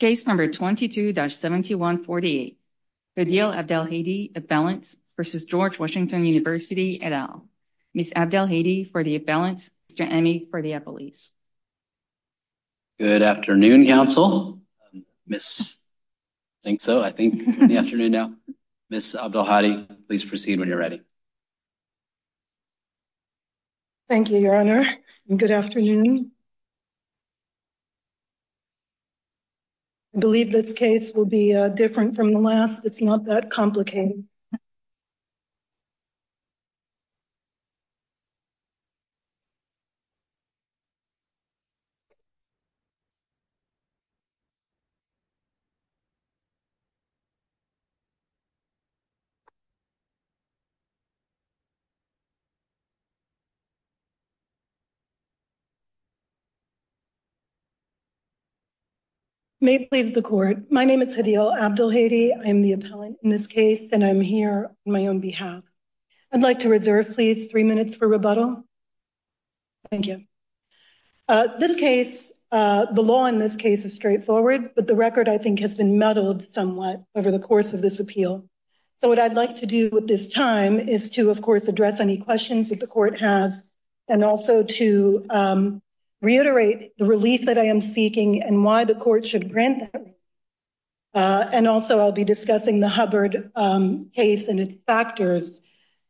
Case number 22-7148, Hdeel Abdelhady for the balance versus George Washington University et al. Ms. Abdelhady for the balance, Mr. Amey for the appellees. Good afternoon, counsel. Ms. Abdelhady, please proceed when you're ready. Thank you, Your Honor, and good afternoon. I believe this case will be different from the last. It's not that complicated. May it please the Court, my name is Hdeel Abdelhady I'm the appellant in this case, and I'm here on my own behalf. I'd like to reserve, please, three minutes for rebuttal. Thank you. This case, the law in this case is straightforward, but the record, I think, has been meddled somewhat over the course of this appeal. So what I'd like to do with this time is to, of course, address any questions that the Court has and also to reiterate the relief that I am seeking and why the Court should grant that. And also, I'll be discussing the Hubbard case and its factors,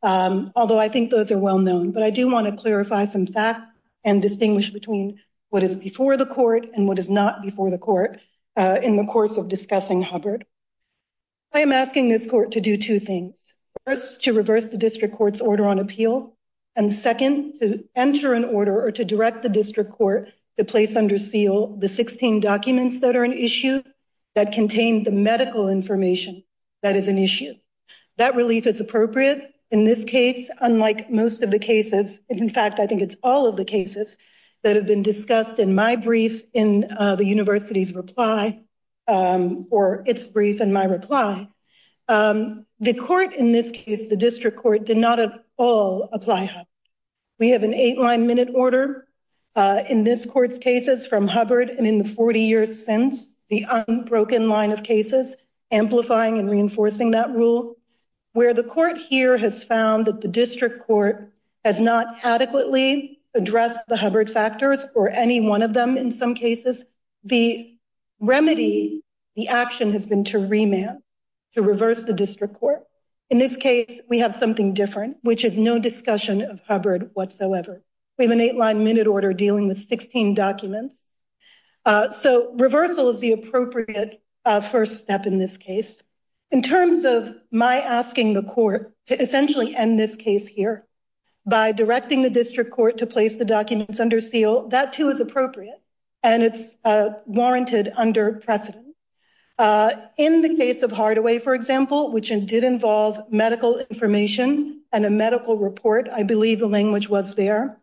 although I think those are well known. But I do want to clarify some facts and distinguish between what is before the Court and what is not before the Court in the course of discussing Hubbard. I am asking this Court to do two things. First, to reverse the District Court's order on appeal, and second, to enter an order or direct the District Court to place under seal the 16 documents that are an issue that contain the medical information that is an issue. That relief is appropriate in this case, unlike most of the cases. In fact, I think it's all of the cases that have been discussed in my brief in the University's reply, or its brief in my reply. The Court in this case, the District Court, did not at all apply Hubbard. We have an eight-line minute order in this Court's cases from Hubbard and in the 40 years since, the unbroken line of cases, amplifying and reinforcing that rule. Where the Court here has found that the District Court has not adequately addressed the Hubbard factors, or any one of them in some cases, the remedy, the action has been to remand, to reverse the District Court. In this case, we have something different, which is no discussion of Hubbard whatsoever. We have an eight-line minute order dealing with 16 documents. So, reversal is the appropriate first step in this case. In terms of my asking the Court to essentially end this case here, by directing the District Court to place the documents under seal, that too is appropriate, and it's warranted under precedent. In the case of Hardaway, for example, which did involve medical information and a medical report, I believe the language was there,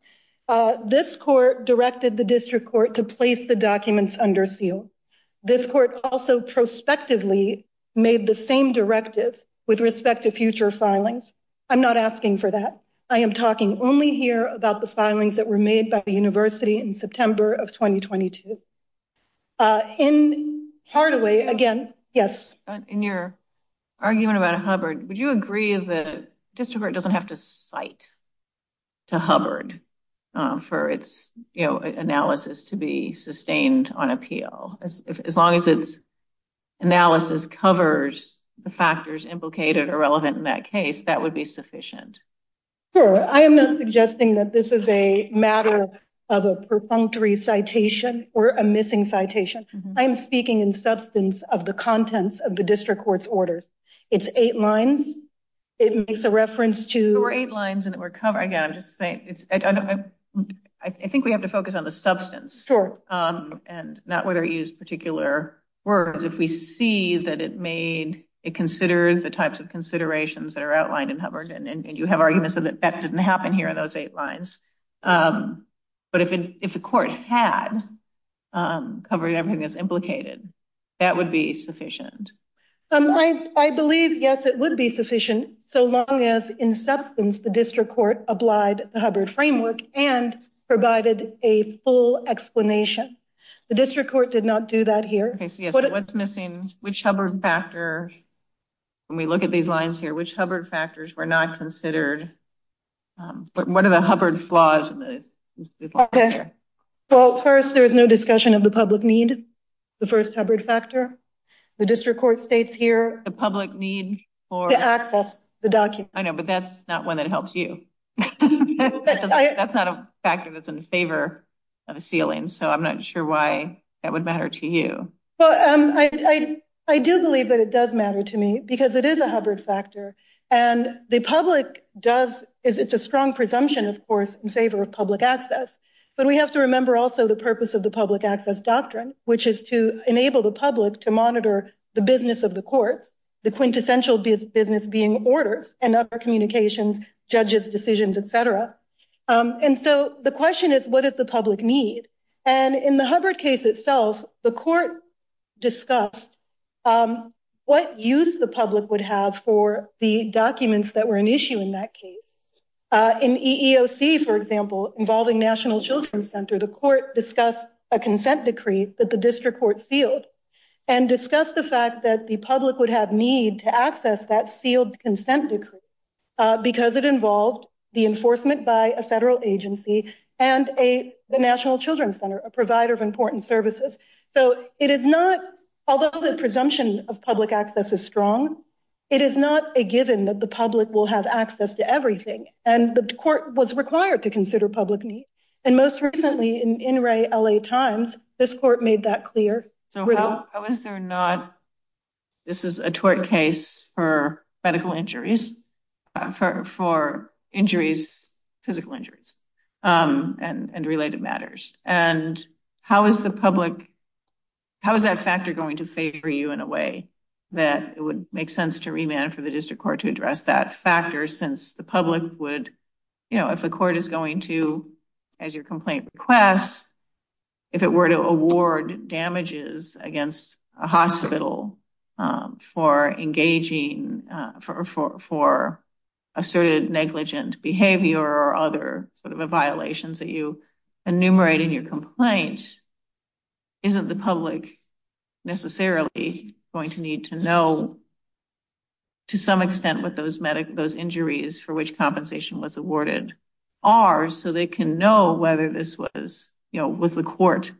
this Court directed the District Court to place the documents under seal. This Court also prospectively made the same directive with respect to future filings. I'm not asking for that. I am talking only here about the filings that were made by the University in September of 2022. In Hardaway, again, yes? In your argument about Hubbard, would you agree that the District Court doesn't have to cite to Hubbard for its analysis to be sustained on appeal? As long as its analysis covers the factors implicated or relevant in that case, that would be sufficient. Sure. I am not suggesting that this is a matter of a perfunctory citation or a missing citation. I am speaking in substance of the contents of the District Court's orders. It's eight lines. It makes a reference to... There were eight lines and it were covered. Again, I'm just saying, I think we have to focus on the substance and not whether it used particular words. If we see that it made, it considered the types of considerations that are outlined in that, that didn't happen here in those eight lines. But if the Court had covered everything that's implicated, that would be sufficient. I believe, yes, it would be sufficient, so long as in substance, the District Court applied the Hubbard framework and provided a full explanation. The District Court did not do that here. What's missing? Which Hubbard factor, when we look at these lines here, which Hubbard factors were not considered? What are the Hubbard flaws? Well, first, there was no discussion of the public need, the first Hubbard factor. The District Court states here... The public need for... To access the documents. I know, but that's not one that helps you. That's not a factor that's in favor of a sealing, so I'm not sure why that would matter to you. Well, I do believe that it does matter to me because it is a Hubbard factor, and the public does... It's a strong presumption, of course, in favor of public access, but we have to remember also the purpose of the public access doctrine, which is to enable the public to monitor the business of the courts, the quintessential business being orders and other communications, judges, decisions, et cetera. And so the question is, what does the public need? And in the Hubbard case itself, the court discussed what use the public would have for the documents that were an issue in that case. In EEOC, for example, involving National Children's Center, the court discussed a consent decree that the District Court sealed and discussed the fact that the public would have need to access that sealed consent decree because it involved the provider of important services. So it is not... Although the presumption of public access is strong, it is not a given that the public will have access to everything, and the court was required to consider public need. And most recently in In Re LA Times, this court made that clear. So how is there not... This is a tort case for medical injuries, for injuries, physical injuries and related matters. And how is the public... How is that factor going to favor you in a way that it would make sense to remand for the District Court to address that factor since the public would... If the court is going to, as your complaint requests, if it were to award violations that you enumerate in your complaint, isn't the public necessarily going to need to know to some extent what those injuries for which compensation was awarded are so they can know whether this was... Was the court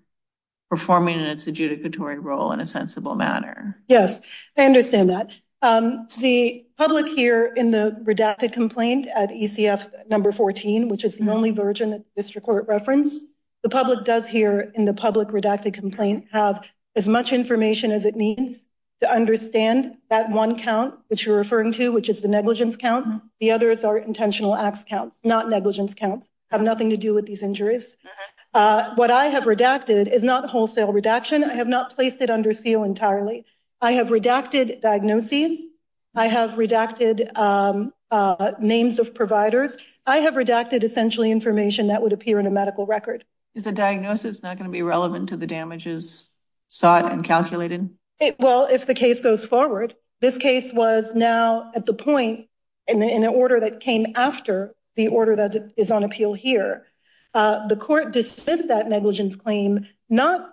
performing in its adjudicatory role in a sensible manner? Yes, I understand that. The public here in the redacted complaint at ECF number 14, which is the only version that the District Court referenced, the public does here in the public redacted complaint have as much information as it needs to understand that one count which you're referring to, which is the negligence count. The others are intentional acts counts, not negligence counts, have nothing to do with these injuries. What I have redacted is not wholesale redaction. I have not placed it under seal entirely. I have redacted diagnoses. I have essentially redacted information that would appear in a medical record. Is a diagnosis not going to be relevant to the damages sought and calculated? Well, if the case goes forward, this case was now at the point in an order that came after the order that is on appeal here. The court dismissed that negligence claim not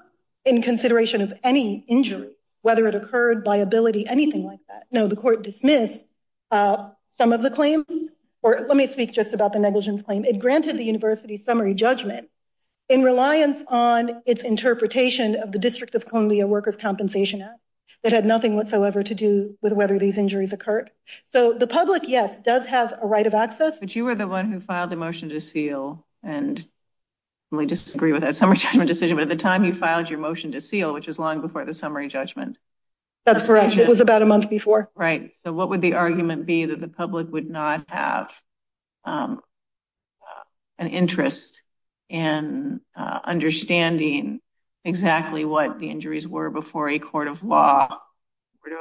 in consideration of any injury, whether it occurred by ability, anything like that. No, the court dismissed some of the negligence claim. It granted the university summary judgment in reliance on its interpretation of the District of Columbia Workers' Compensation Act that had nothing whatsoever to do with whether these injuries occurred. So the public, yes, does have a right of access. But you were the one who filed the motion to seal and we disagree with that summary judgment decision. But at the time you filed your motion to seal, which is long before the summary judgment. That's correct. It was about a month before. Right. So what would the argument be that the public would not have an interest in understanding exactly what the injuries were before a court of law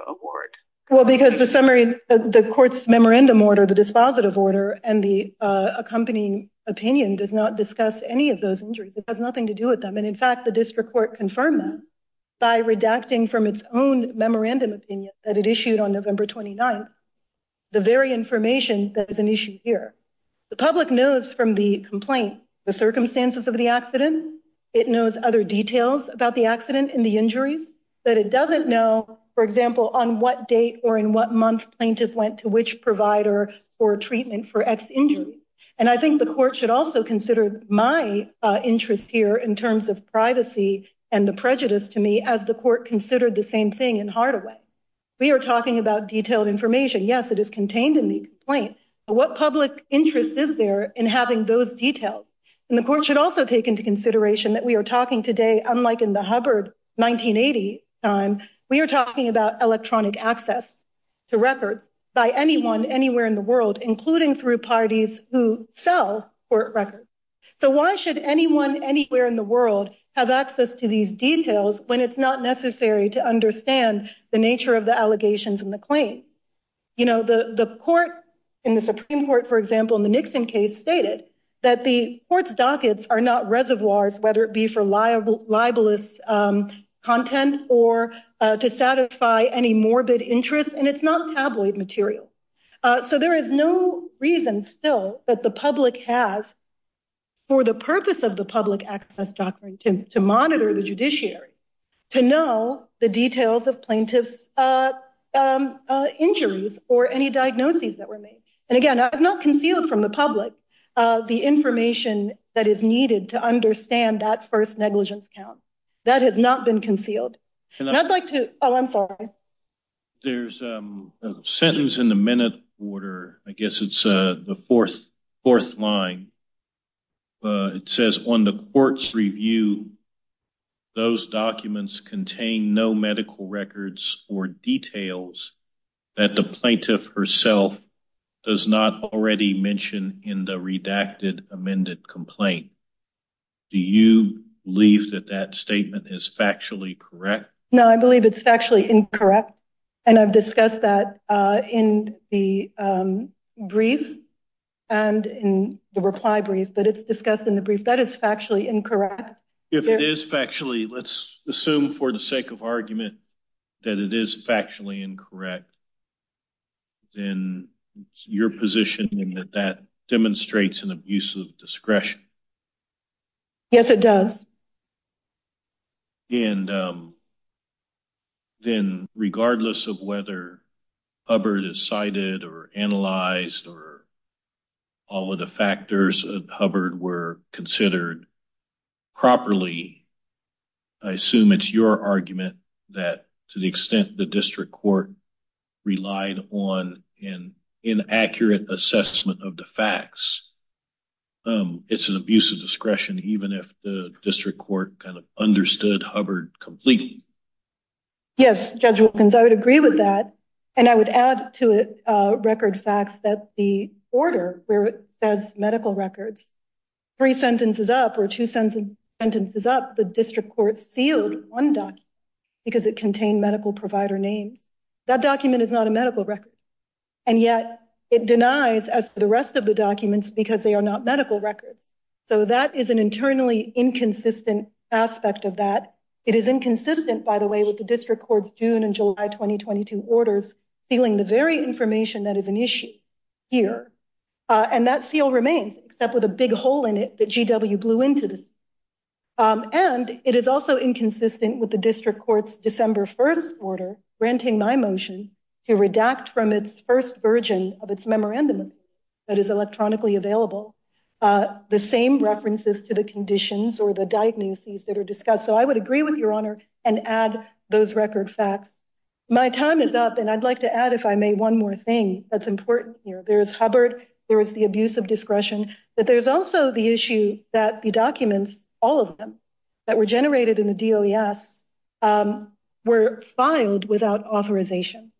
award? Well, because the summary, the court's memorandum order, the dispositive order and the accompanying opinion does not discuss any of those injuries. It has nothing to do with them. And in fact, the district court confirmed that by redacting from its own memorandum opinion that it issued on November 29th the very information that is an issue here. The public knows from the complaint, the circumstances of the accident. It knows other details about the accident and the injuries that it doesn't know, for example, on what date or in what month plaintiff went to which provider for treatment for X injury. And I think the court should also consider my interest here in terms of privacy and the prejudice to me as the court considered the same thing in Hardaway. We are talking about detailed information. Yes, it is contained in the complaint. What public interest is there in having those details? And the court should also take into consideration that we are talking today, unlike in the Hubbard 1980 time, we are talking about electronic access to records by anyone anywhere in the world, including through parties who sell court records. So why should anyone anywhere in the world have access to these details when it's not necessary to understand the nature of the allegations in the claim? You know, the court in the Supreme Court, for example, in the Nixon case, stated that the court's dockets are not reservoirs, whether it be for liable libelous content or to satisfy any morbid interest. And it's not tabloid material. So there is no reason still that the public has for the purpose of the public access doctrine to monitor the judiciary, to know the details of plaintiff's injuries or any diagnoses that were made. And again, I've not concealed from the public the information that is needed to understand that first negligence count that has not been concealed. And I'd like to. Oh, I'm sorry. There's a sentence in the minute order. I guess it's the fourth line. It says on the court's review, those documents contain no medical records or details that the plaintiff herself does not already mention in the redacted amended complaint. Do you believe that that statement is factually correct? No, I believe it's factually incorrect. And I've discussed that in the brief and in the reply brief, but it's discussed in the brief that is factually incorrect. If it is factually, let's assume for the sake of argument that it is factually incorrect. Then your position that that demonstrates an abuse of discretion. Yes, it does. And then regardless of whether Hubbard is cited or analyzed or all of the factors of Hubbard were considered properly, I assume it's your argument that to the extent the even if the district court kind of understood Hubbard completely. Yes, Judge Wilkins, I would agree with that. And I would add to it record facts that the order where it says medical records, three sentences up or two sentences up the district court sealed one document because it contained medical provider names. That document is not a medical record. And yet it denies as to the rest of the documents because they are not medical records. So that is an internally inconsistent aspect of that. It is inconsistent, by the way, with the district court's June and July 2022 orders feeling the very information that is an issue here. And that seal remains except with a big hole in it that GW blew into this. And it is also inconsistent with the district court's December 1st order, granting my motion to redact from its first version of its memorandum that is electronically available the same references to the conditions or the diagnoses that are discussed. So I would agree with your honor and add those record facts. My time is up and I'd like to add, if I may, one more thing that's important here. There is Hubbard, there is the abuse of discretion, but there's also the issue that the documents, all of them that were generated in the DOES were filed without authorization.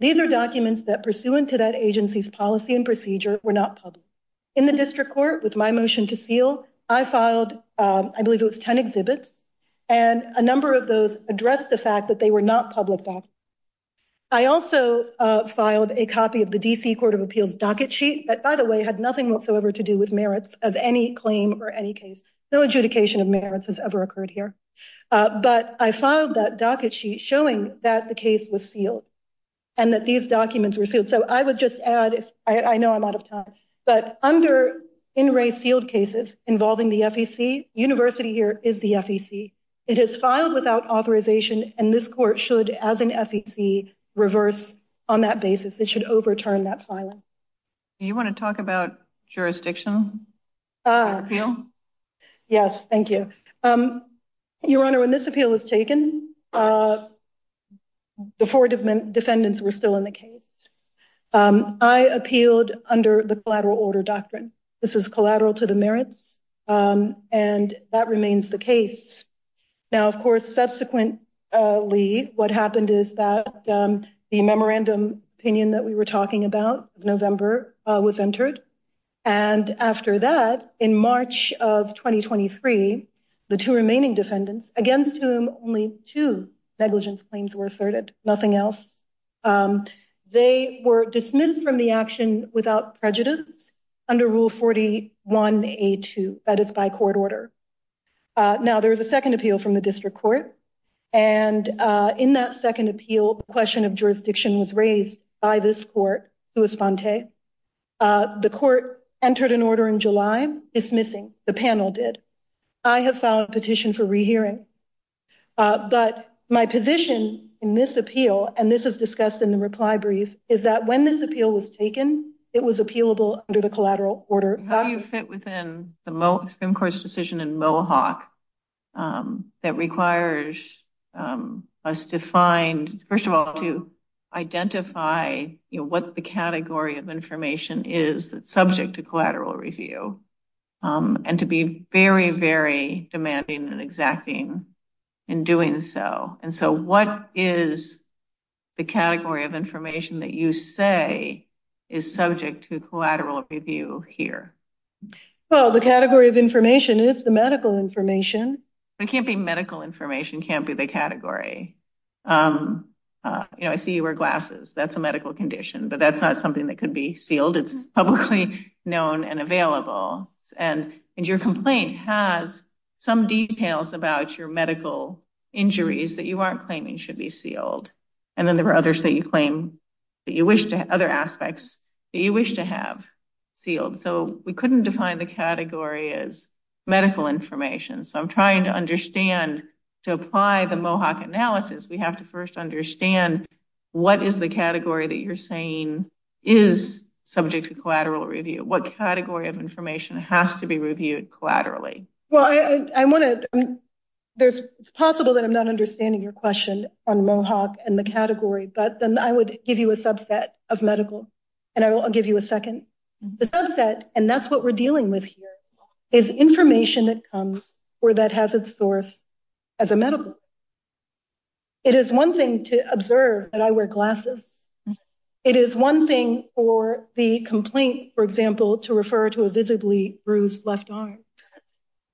These are documents that pursuant to that agency's policy and procedure were not public. In the district court, with my motion to seal, I filed, I believe it was 10 exhibits, and a number of those addressed the fact that they were not public documents. I also filed a copy of the DC Court of Appeals docket sheet that, by the way, had nothing whatsoever to do with merits of any claim or any case. No adjudication of merits has ever occurred here. But I filed that docket sheet showing that the case was sealed and that these documents were but under in-ray sealed cases involving the FEC, University here is the FEC. It is filed without authorization and this court should, as an FEC, reverse on that basis. It should overturn that filing. Do you want to talk about jurisdictional appeal? Yes, thank you. Your honor, when this under the collateral order doctrine. This is collateral to the merits and that remains the case. Now, of course, subsequently what happened is that the memorandum opinion that we were talking about in November was entered. And after that, in March of 2023, the two remaining defendants, against whom only two negligence claims were asserted, nothing else, they were dismissed from the action without prejudice under Rule 41A2. That is by court order. Now, there is a second appeal from the district court. And in that second appeal, the question of jurisdiction was raised by this court, Luis Fonte. The court entered an order in July dismissing. The panel did. I have filed a petition for rehearing. But my position in this brief is that when this appeal was taken, it was appealable under the collateral order. How do you fit within the Supreme Court's decision in Mohawk that requires us to find, first of all, to identify what the category of information is that's subject to collateral review and to be very, very demanding and exacting in doing so. And so what is the category of information that you say is subject to collateral review here? Well, the category of information is the medical information. It can't be medical information, can't be the category. You know, I see you wear glasses. That's a medical condition. But that's not something that could be sealed. It's publicly known and available. And your complaint has some details about your medical injuries that you aren't claiming should be sealed. And then there are others that you claim that you wish to have, other aspects that you wish to have sealed. So we couldn't define the category as medical information. So I'm trying to understand, to apply the Mohawk analysis, we have to first understand what is the category that you're saying is subject to collateral review? What category of information has to be reviewed collaterally? Well, it's possible that I'm not understanding your question on Mohawk and the category, but then I would give you a subset of medical. And I'll give you a second. The subset, and that's what we're dealing with here, is information that comes or that has its source as a medical. It is one thing to observe that I wear glasses. It is one thing for the complaint, for example, to refer to a visibly bruised left arm.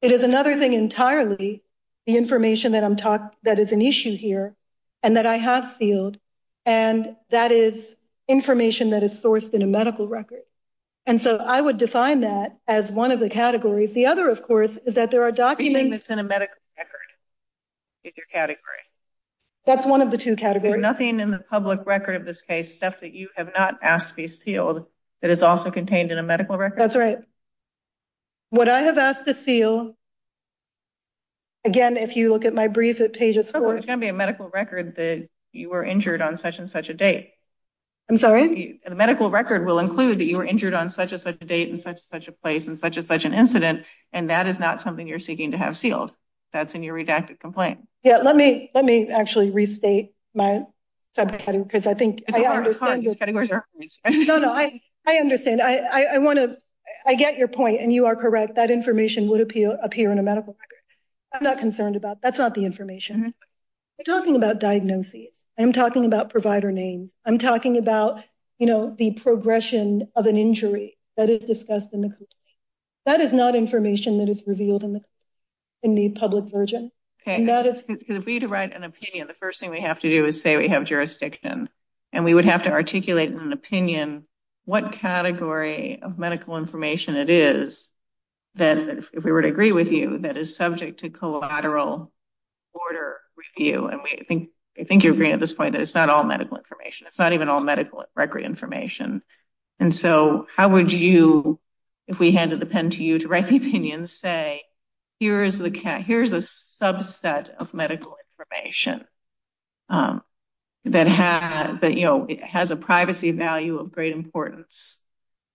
It is another thing entirely, the information that I'm talking, that is an issue here, and that I have sealed. And that is information that is sourced in a medical record. And so I would define that as one of the categories. The other, of course, is that there are documents in a medical record is your category. That's one of the two categories. Nothing in the public record of this case, stuff that you have not asked to be sealed, that is also contained in a medical record. That's right. What I have asked to seal, again, if you look at my brief at pages four. It's going to be a medical record that you were injured on such and such a date. I'm sorry? The medical record will include that you were injured on such and such a date, in such and such a place, in such and such an incident, and that is not something you're seeking to have sealed. That's in your redacted complaint. Yeah, let me actually restate my subcategory, because I think I understand. No, no, I understand. I want to, I get your point, and you are correct. That information would appear in a medical record. I'm not concerned about, that's not the information. We're talking about diagnoses. I'm talking about provider names. I'm talking about, you know, the progression of an injury that is discussed in the complaint. That is not information that is revealed in the public version. Okay, if we were to write an opinion, the first thing we have to do is say we have jurisdiction, and we would have to articulate in an opinion what category of medical information it is that, if we were to agree with you, that is subject to collateral order review, and I think you're agreeing at this point that it's not all medical information. It's not even all medical record information, and so how would you, if we handed the pen to you to write the opinion, say, here is a subset of medical information that has a privacy value of great importance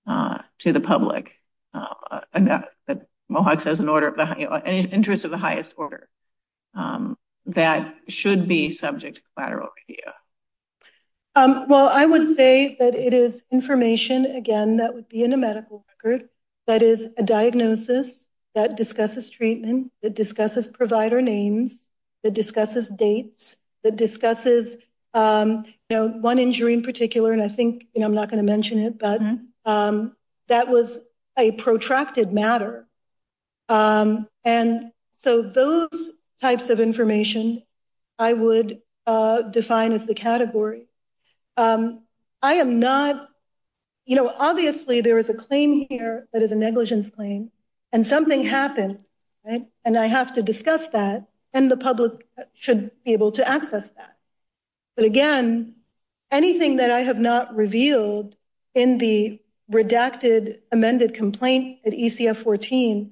to the public, that Mohawks has an interest of the highest order, that should be subject to collateral review? Well, I would say that it is information, again, that would be in a medical record that is a diagnosis that discusses treatment, that discusses provider names, that discusses dates, that discusses, you know, one injury in particular, and I think, you know, I'm not going to mention it, but that was a protracted matter, and so those types of information I would define as the category. I am not, you know, obviously there is a claim here that is a negligence claim, and something happened, right, and I have to discuss that, and the public should be able to access that, but again, anything that I have not revealed in the redacted amended complaint at ECF-14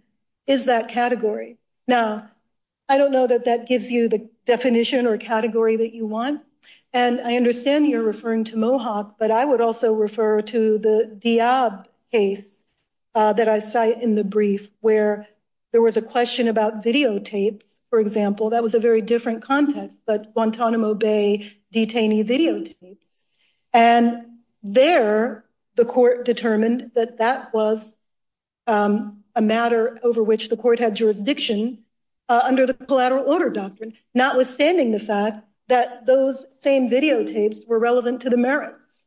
is that category. Now, I don't know that that gives you the definition or category that you want, and I understand you're referring to Mohawk, but I would also refer to the Diab case that I cite in the brief where there was a question about videotapes, for example, that was a very different context, but Guantanamo Bay detainee videotapes, and there the court determined that that was a matter over which the court had jurisdiction under the collateral order doctrine, notwithstanding the fact that those same videotapes were relevant to the merits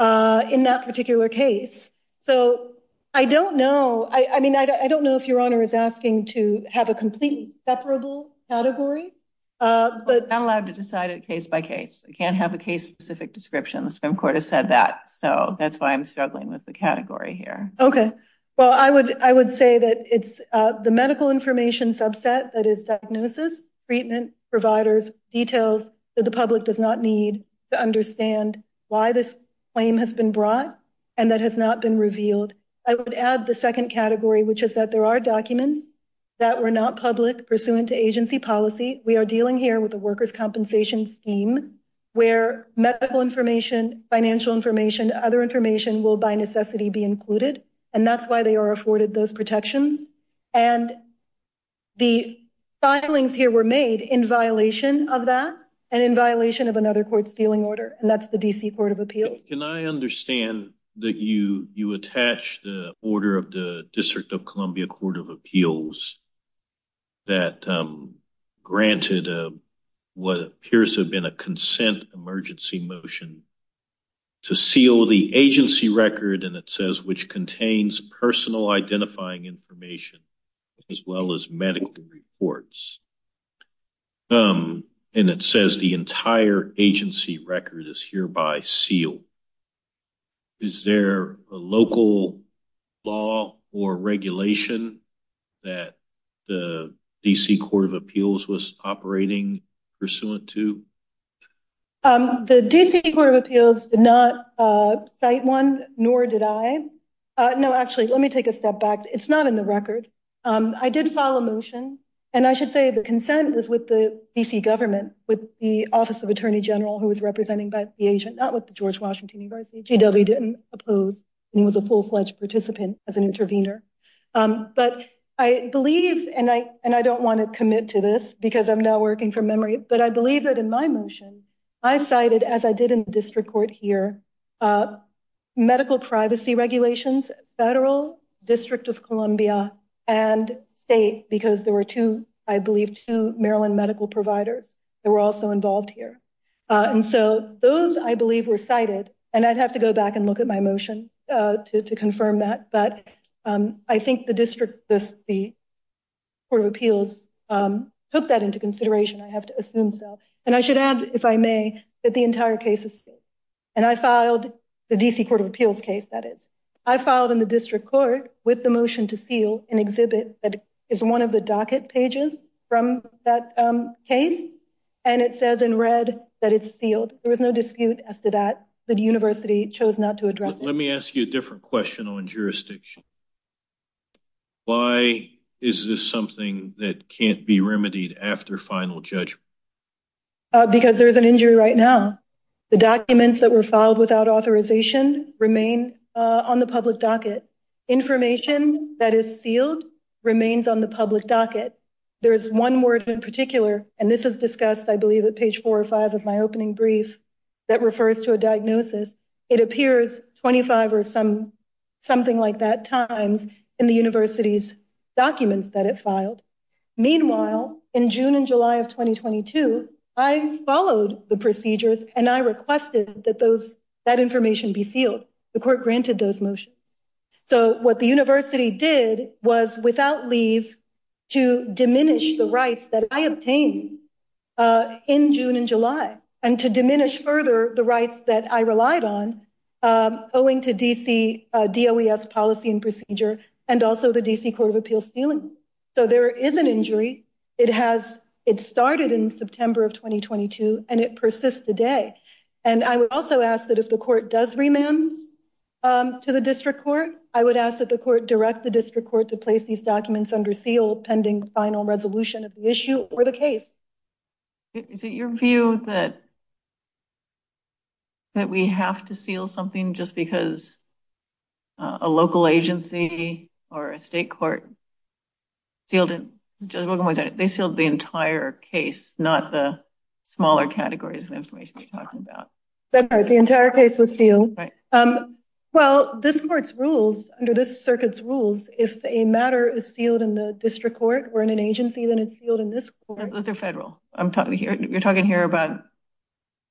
in that particular case, so I don't know. I mean, I don't know if your honor is asking to have a completely separable category, but I'm allowed to decide it case by case. I can't have a case-specific description. The Supreme Court has said that, so that's why I'm struggling with the category here. Okay, well, I would say that it's the medical information subset that is diagnosis, treatment, providers, details that the public does not need to understand why this claim has been brought and that has not been revealed. I would add the second category, which is that there are documents that were not public pursuant to agency policy. We are dealing here with a workers' compensation scheme where medical information, financial information, other information will, by necessity, be included, and that's why they are afforded those protections, and the filings here were made in violation of that and in violation of another court's sealing order, and that's the D.C. Court of Appeals. Can I understand that you attach the order of the District of Columbia Court of Appeals that granted what appears to have been a consent emergency motion to seal the agency record, and it says which contains personal identifying information as well as medical reports, and it says the entire agency record is hereby sealed. Is there a local law or regulation that the D.C. Court of Appeals was operating pursuant to? The D.C. Court of Appeals did not one, nor did I. No, actually, let me take a step back. It's not in the record. I did file a motion, and I should say the consent was with the D.C. government, with the Office of Attorney General, who was representing the agent, not with the George Washington University. GW didn't oppose, and he was a full-fledged participant as an intervener, but I believe, and I don't want to commit to this because I'm now working from memory, but I believe that in my motion, I cited, as I did in the District Court here, medical privacy regulations, federal, District of Columbia, and state because there were two, I believe, two Maryland medical providers that were also involved here, and so those, I believe, were cited, and I'd have to go back and look at my motion to confirm that, but I think the District, the Court of Appeals took that into consideration. I have to assume so, and I should add, if I may, that the entire case is, and I filed the D.C. Court of Appeals case, that is. I filed in the District Court with the motion to seal an exhibit that is one of the docket pages from that case, and it says in red that it's sealed. There was no dispute as to that. The university chose not to address it. Let me ask you a different question on jurisdiction. Why is this something that can't be remedied after final judgment? Because there's an injury right now. The documents that were filed without authorization remain on the public docket. Information that is sealed remains on the public docket. There is one word in particular, and this is discussed, I believe, at page four or five of my something-like-that times in the university's documents that it filed. Meanwhile, in June and July of 2022, I followed the procedures, and I requested that that information be sealed. The court granted those motions. So what the university did was, without leave, to diminish the rights that I obtained in June and July, and to diminish further the rights that I relied on, owing to D.C.'s DOES policy and procedure, and also the D.C. Court of Appeals' sealing. So there is an injury. It started in September of 2022, and it persists today. And I would also ask that if the court does remand to the district court, I would ask that the court direct the district court to place these documents under seal pending final resolution of the issue or the case. Is it your view that we have to seal something just because a local agency or a state court sealed it? They sealed the entire case, not the smaller categories of information you're talking about. The entire case was sealed. Well, this court's rules, under this circuit's rules, if a matter is sealed in the district court or in an agency, then it's sealed in this court. Those are federal. You're talking here about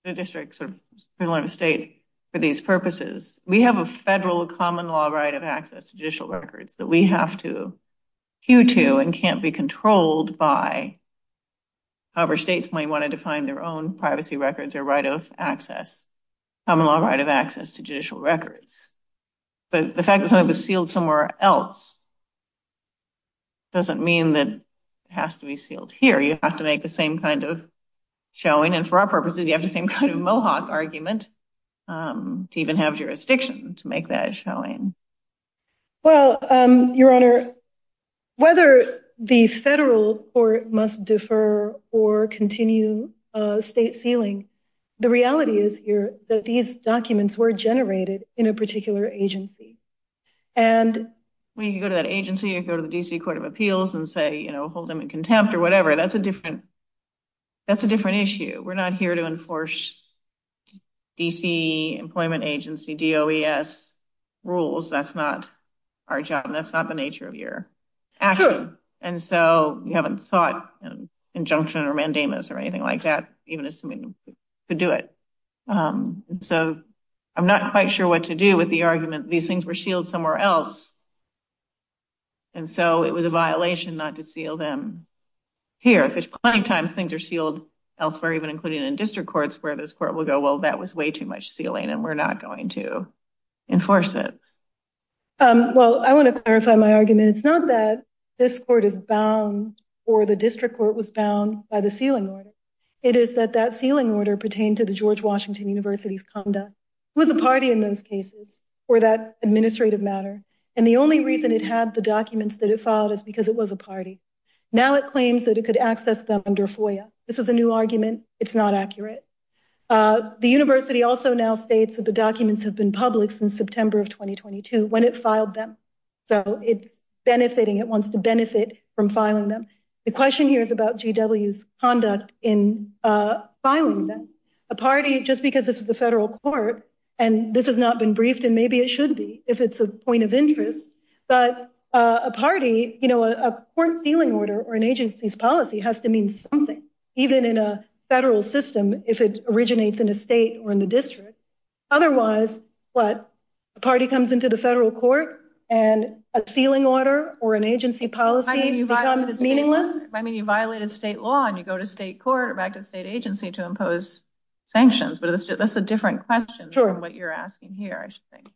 a district, sort of a state, for these purposes. We have a federal common law right of access to judicial records that we have to cue to and can't be controlled by. However, states may want to define their own privacy records or right of access, common law right of access to judicial records. But the fact that something was sealed somewhere else doesn't mean that it has to be sealed here. You have to make the same kind of showing. And for our purposes, you have the same kind of mohawk argument to even have jurisdiction to make that showing. Well, your honor, whether the federal court must defer or continue state sealing, the reality is here that these documents were generated in a particular agency. And when you go to that agency, you go to the D.C. Court of Appeals. That's a different issue. We're not here to enforce D.C. employment agency, D.O.E.S. rules. That's not our job. That's not the nature of your action. And so you haven't sought an injunction or mandamus or anything like that, even assuming you could do it. So I'm not quite sure what to do with the argument. These things were sealed somewhere else. And so it was a here. There's plenty of times things are sealed elsewhere, even including in district courts, where this court will go, well, that was way too much sealing and we're not going to enforce it. Well, I want to clarify my argument. It's not that this court is bound or the district court was bound by the sealing order. It is that that sealing order pertained to the George Washington University's conduct. It was a party in those cases for that administrative matter. And the only reason it had the documents that it filed is because it was a party. Now it claims that it could access them under FOIA. This is a new argument. It's not accurate. The university also now states that the documents have been public since September of 2022, when it filed them. So it's benefiting. It wants to benefit from filing them. The question here is about G.W.'s conduct in filing them. A party, just because this is a federal court and this has not been briefed, and maybe it should be if it's a point of interest, but a party, you know, a court sealing order or an agency's policy has to mean something, even in a federal system, if it originates in a state or in the district. Otherwise, what, a party comes into the federal court and a sealing order or an agency policy becomes meaningless? I mean, you violated state law and you go to state court or back to the state agency to impose sanctions. But that's a different question from what you're asking here, I should think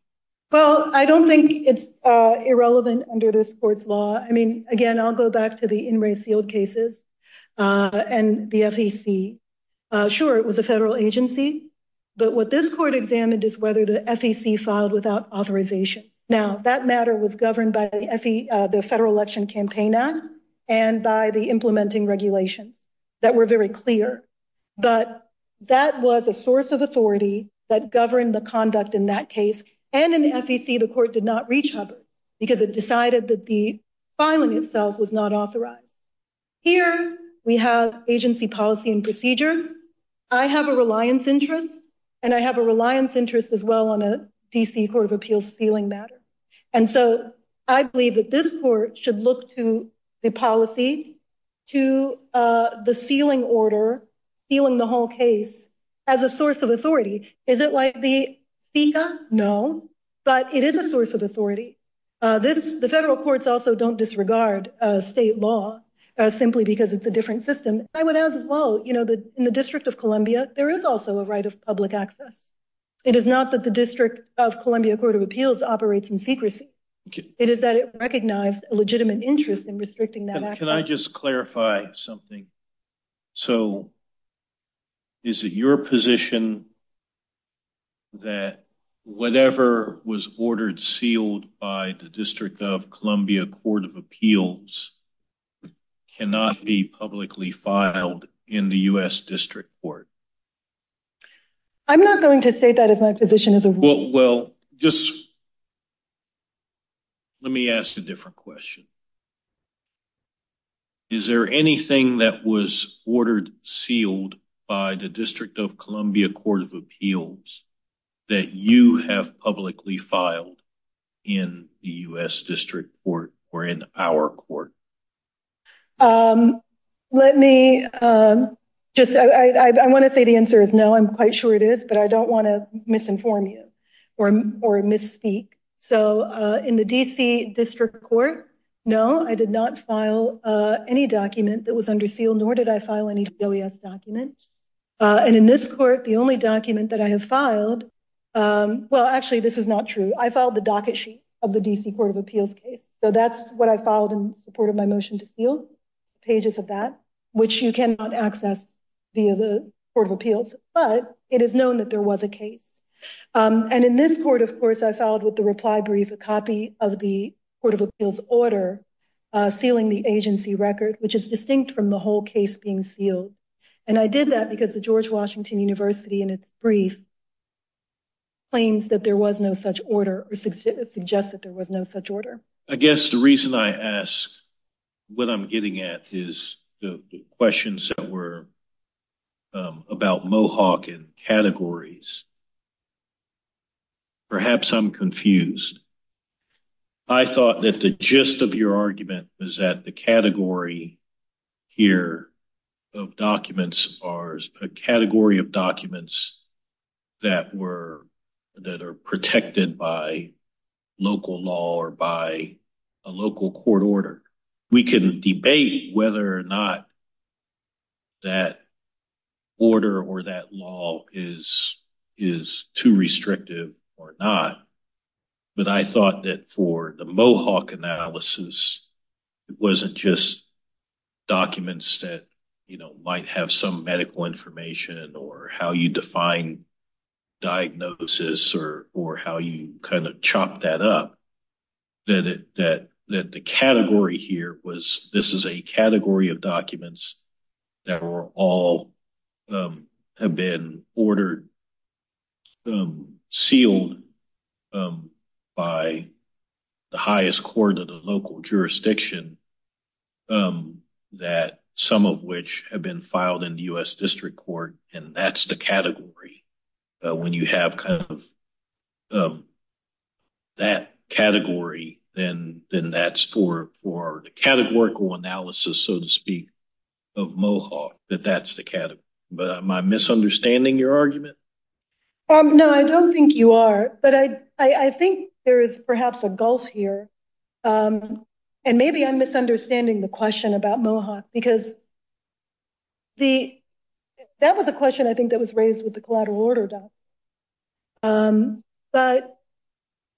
it's irrelevant under this court's law. I mean, again, I'll go back to the in-race sealed cases and the FEC. Sure, it was a federal agency, but what this court examined is whether the FEC filed without authorization. Now that matter was governed by the Federal Election Campaign Act and by the implementing regulations that were very clear, but that was a source of authority that governed the conduct in that case. And in FEC, the court did not reach Hubbard because it decided that the filing itself was not authorized. Here we have agency policy and procedure. I have a reliance interest and I have a reliance interest as well on a DC Court of Appeals sealing matter. And so I believe that this court should look to the policy, to the sealing order, sealing the whole case as a source of authority. Is it like the FECA? No, but it is a source of authority. The federal courts also don't disregard state law simply because it's a different system. I would add as well, in the District of Columbia, there is also a right of public access. It is not that the District of Columbia Court of Appeals operates in secrecy, it is that it recognized a legitimate interest in restricting that access. Can I just clarify something? So is it your position that whatever was ordered sealed by the District of Columbia Court of Appeals cannot be publicly filed in the U.S. District Court? I'm not going to state that as my position as a rule. Well, just let me ask a different question. Is there anything that was ordered sealed by the District of Columbia Court of Appeals that you have publicly filed in the U.S. District Court or in our court? Let me just, I want to say the answer is no, I'm quite sure it is, but I don't want to misinform you or misspeak. So in the D.C. District Court, no, I did not file any document that was under seal, nor did I file any DOES document. And in this court, the only document that I have filed, well, actually, this is not true. I filed the docket sheet of the D.C. Court of Appeals case. So that's what I filed in support of my motion to seal, pages of that, which you cannot access via the Court of Appeals. But it is known that there was a case. And in this court, of course, I filed with the reply brief a copy of the Court of Appeals order sealing the agency record, which is distinct from the whole case being sealed. And I did that because the George Washington University, in its brief, claims that there was no such order or suggests that there was no such order. I guess the reason I ask what I'm getting at is the questions that were about Mohawk and categories. Perhaps I'm confused. I thought that the gist of your argument was that category here of documents are a category of documents that are protected by local law or by a local court order. We can debate whether or not that order or that law is too restrictive or not. But I thought that for the Mohawk analysis, it wasn't just documents that, you know, might have some medical information or how you define diagnosis or how you kind of chop that up. That the category here was this is a category of documents that were all have been ordered, um, sealed by the highest court of the local jurisdiction, that some of which have been filed in the U.S. District Court. And that's the category. When you have kind of that category, then that's for the categorical analysis, so to speak, of Mohawk, that that's the category. But am I misunderstanding your argument? No, I don't think you are. But I think there is perhaps a gulf here. And maybe I'm misunderstanding the question about Mohawk because the that was a question I think that was raised with the collateral order document. But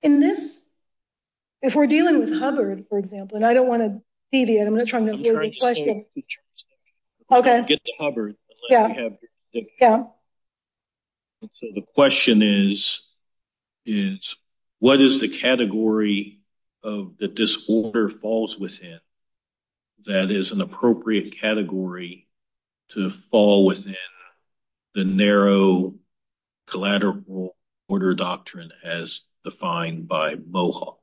in this, if we're dealing with Hubbard, for example, and I don't want to deviate, I'm not trying to hear the question. Okay. The question is, is what is the category of the disorder falls within? That is an appropriate category to fall within the narrow collateral order doctrine as defined by Mohawk.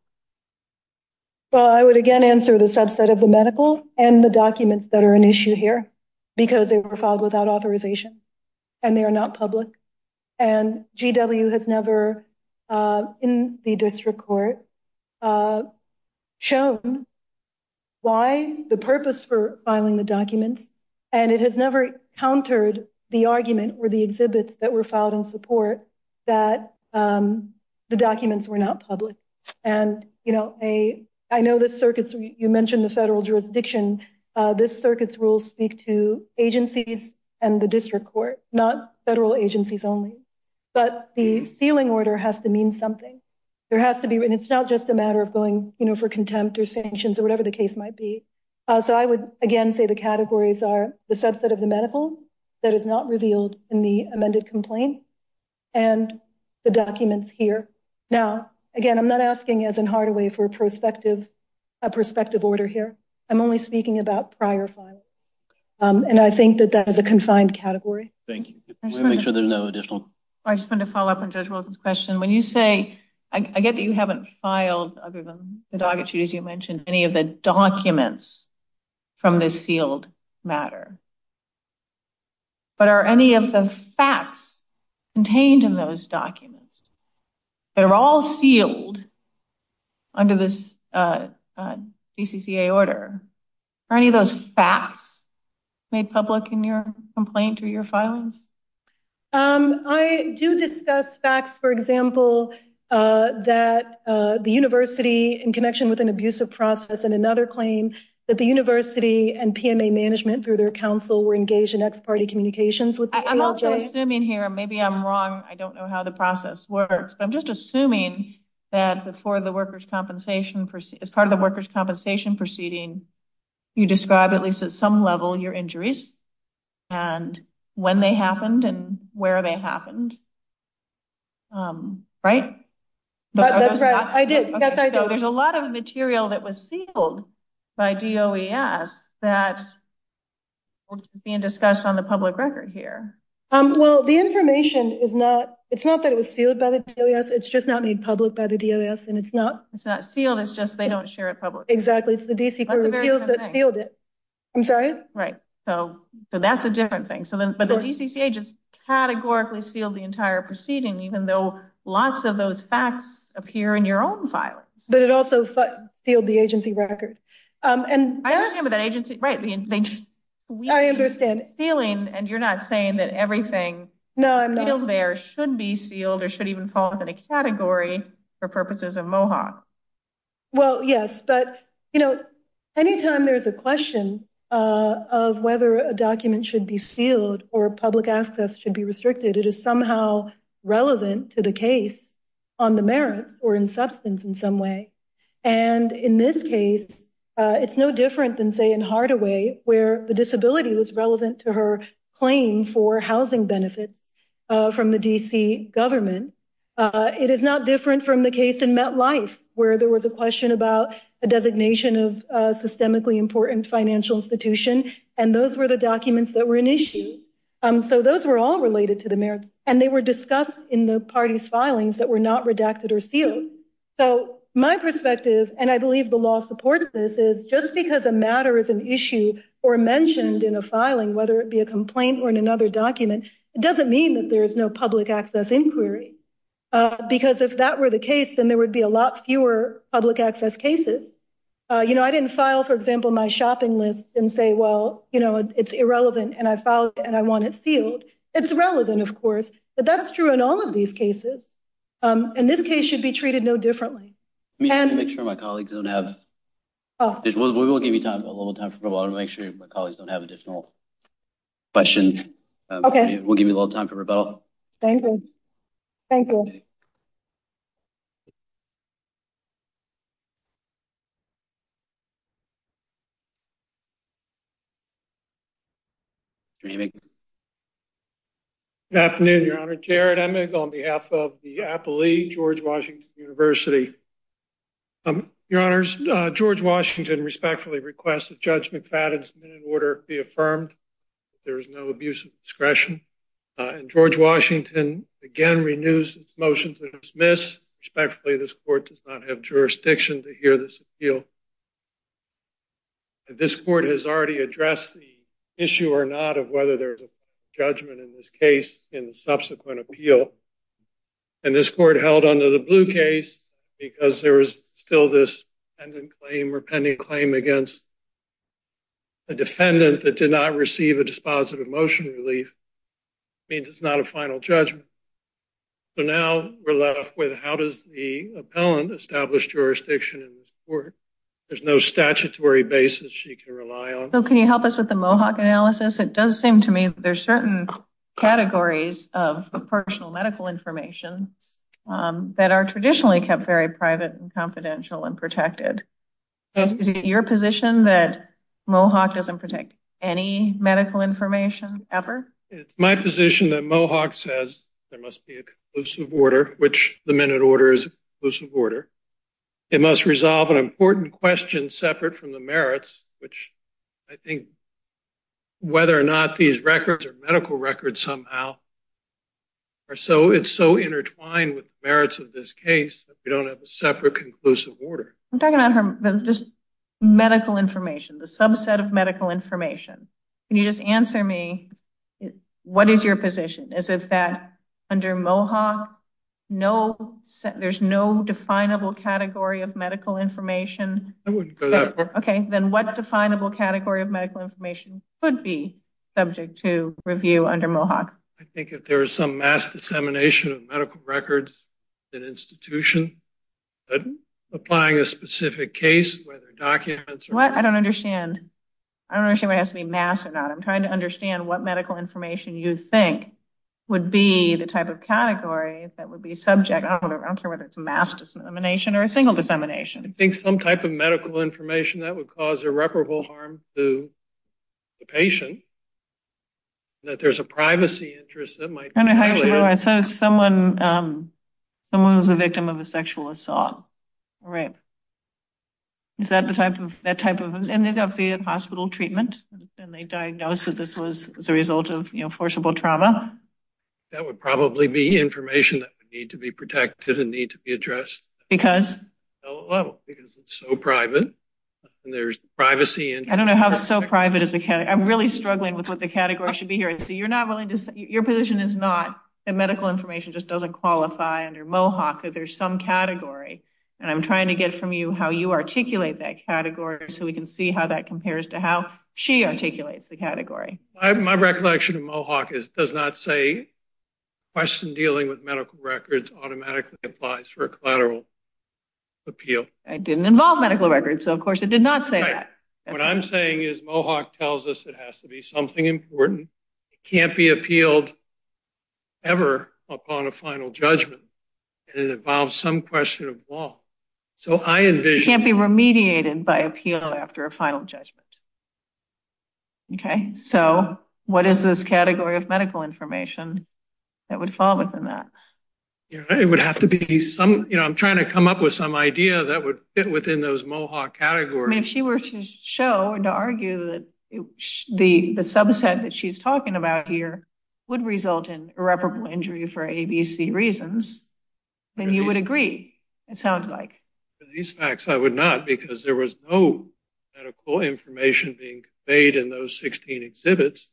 Well, I would again answer the subset of the medical and the documents that are an issue here because they were filed without authorization and they are not public. And GW has never, uh, in the District Court, uh, shown why the purpose for filing the documents, and it has never countered the argument or the exhibits that were filed in support that, um, the documents were not public. And, you know, a, I know the circuits, you mentioned the federal jurisdiction, uh, this circuits rule speak to agencies and the District Court, not federal agencies only. But the sealing order has to mean something. There has to be, and it's not just a matter of going, you know, for contempt or sanctions or whatever the case might be. Uh, so I would again say the categories are the subset of the medical that is not revealed in the amended complaint and the documents here. Now, again, I'm not asking as in Hardaway for a prospective, a prospective order here. I'm only speaking about prior files. Um, and I think that that is a confined category. Thank you. We'll make sure there's no additional. I just want to follow up on Judge Wilson's question. When you say, I get that you haven't filed other than you mentioned any of the documents from this sealed matter, but are any of the facts contained in those documents that are all sealed under this, uh, uh, DCCA order, are any of those facts made public in your complaint or your filings? Um, I do discuss facts, for example, uh, that, uh, the university in connection with an abusive process and another claim that the university and PMA management through their council were engaged in ex-party communications with the ALJ. I'm also assuming here, maybe I'm wrong. I don't know how the process works, but I'm just assuming that before the workers' compensation, as part of the workers' compensation proceeding, you describe at least at some level your injuries and when they happened and where they happened, um, right? That's right. I did. Yes, I do. There's a lot of material that was sealed by DOES that was being discussed on the public record here. Um, well, the information is not, it's not that it was sealed by the DOES. It's just not made public by the DOES and it's not, it's not sealed. It's just, they don't share it publicly. Exactly. It's the DCA that sealed it. I'm sorry. Right. So, so that's a different thing. So then, but the DCCA just categorically sealed the entire proceeding, even though lots of those facts appear in your own filings. But it also sealed the agency record. Um, and I understand what that agency, right. I understand it's sealing and you're not saying that everything there should be sealed or should even fall within a category for purposes of MOHA. Well, yes, but you know, anytime there's a question, uh, of whether a document should be sealed or public access should be restricted, it is somehow relevant to the case on the merits or in substance in some way. And in this case, uh, it's no different than say in Hardaway where the disability was relevant to her claim for housing benefits, uh, from the DC government. Uh, it is not different from the case in MetLife where there was a question about a designation of a systemically important financial institution. And those were the documents that were an issue. Um, so those were all related to the merits and they were discussed in the party's filings that were not redacted or sealed. So my perspective, and I believe the law supports this is just because a matter is an issue or mentioned in a filing, whether it uh, because if that were the case, then there would be a lot fewer public access cases. Uh, you know, I didn't file, for example, my shopping list and say, well, you know, it's irrelevant. And I filed and I want it sealed. It's relevant of course, but that's true in all of these cases. Um, and this case should be treated no differently. And make sure my colleagues don't have, oh, we will give you time, a little time for a while to make sure my colleagues don't have additional questions. Okay. We'll give you a little time for rebuttal. Thank you. Thank you. Good afternoon, Your Honor. Jared Emig on behalf of the Appellee, George Washington University. Your Honors, George Washington respectfully requested Judge McFadden's minute order be motion to dismiss. Respectfully, this court does not have jurisdiction to hear this appeal. This court has already addressed the issue or not of whether there's a judgment in this case in the subsequent appeal. And this court held under the blue case because there was still this pending claim or pending claim against a defendant that did not receive a dispositive motion relief means it's not a final judgment. So now we're left with how does the appellant establish jurisdiction in this court? There's no statutory basis she can rely on. So can you help us with the Mohawk analysis? It does seem to me that there's certain categories of personal medical information that are traditionally kept very private and confidential and protected. Is it your position that Mohawk doesn't protect any medical information ever? It's my position that Mohawk says there must be a conclusive order, which the minute order is a conclusive order. It must resolve an important question separate from the merits, which I think whether or not these records are medical records somehow are so it's so intertwined with the merits of this case that we don't have a separate conclusive order. I'm talking about just medical information, the subset of medical information. Can you just answer me, what is your position? Is it that under Mohawk, there's no definable category of medical information? I wouldn't go that far. Okay, then what definable category of medical information could be subject to review under Mohawk? I think if there is some mass dissemination of medical records, an institution applying a specific case, whether documents... What? I don't understand. I don't understand whether it has to be mass or not. I'm trying to understand what medical information you think would be the type of category that would be subject. I don't care whether it's a mass dissemination or a single dissemination. I think some type of medical information that would cause irreparable harm to the patient, that there's a privacy interest that might... So someone was a victim of a sexual assault. Right. Is that the type of hospital treatment and they diagnosed that this was as a result of forcible trauma? That would probably be information that would need to be protected and need to be addressed. Because? Because it's so private and there's privacy. I don't know how so private is a category. I'm really struggling with what the category should be here. So you're not willing to... Your position is not that medical information just doesn't qualify under Mohawk, that there's some category. And I'm trying to get from you how you articulate that category so we can see how that compares to how she articulates the category. My recollection of Mohawk is it does not say question dealing with medical records automatically applies for a collateral appeal. It didn't involve medical records, so of course it did not say that. What I'm saying is Mohawk tells us it has to be something important. It can't be appealed ever upon a final judgment and it involves some question of law. So I envision... It can't be remediated by appeal after a final judgment. Okay, so what is this category of medical information that would fall within that? It would have to be some, you know, I'm trying to come up with some idea that would fit within those Mohawk categories. I mean if she were to show or to argue that the subset that she's talking about here would result in irreparable injury for ABC reasons, then you would agree, it sounds like. These facts I would not because there was no medical information being conveyed in those 16 exhibits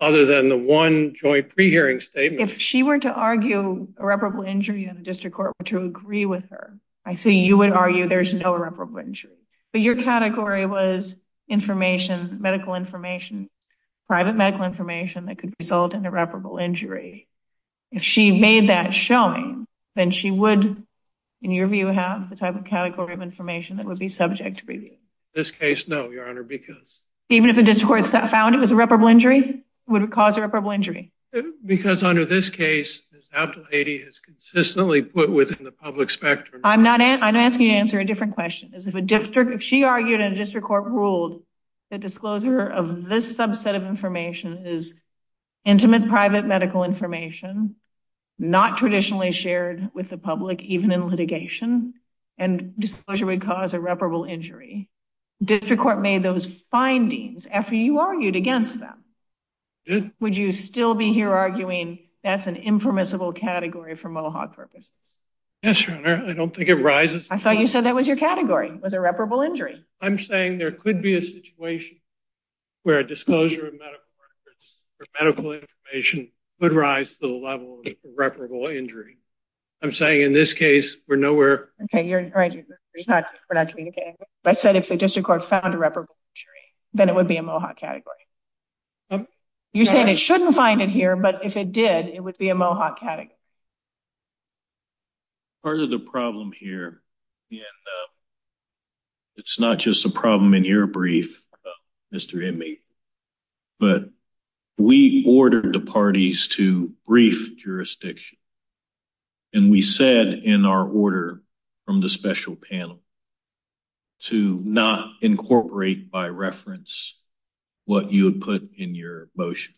other than the one joint pre-hearing statement. If she were to argue irreparable injury and the district court were to agree with her, I see you would argue there's no irreparable injury. But your category was information, medical information, private medical information that could result in irreparable injury. If she made that showing, then she would, in your view, have the type of category of information that would be subject to review. In this case, no, your honor, because... Even if the district court found it was irreparable injury? Would it cause irreparable injury? Because under this case, as Dr. Hady has consistently put within the public spectrum... I'm asking you to answer a question. If she argued and the district court ruled that disclosure of this subset of information is intimate private medical information, not traditionally shared with the public even in litigation, and disclosure would cause irreparable injury, the district court made those findings after you argued against them. Would you still be here arguing that's an impermissible category for Mohawk purposes? Yes, your honor. I don't think it rises... I thought you said that was your category. It was irreparable injury. I'm saying there could be a situation where a disclosure of medical records or medical information would rise to the level of irreparable injury. I'm saying in this case, we're nowhere... Okay, you're right. We're not communicating. I said if the district court found irreparable injury, then it would be a Mohawk category. You said it shouldn't find it here, but if it did, it would be a Mohawk category. Part of the problem here, and it's not just a problem in your brief, Mr. Inmate, but we ordered the parties to brief jurisdiction, and we said in our order from the special panel to not incorporate by reference what you had put in your motion.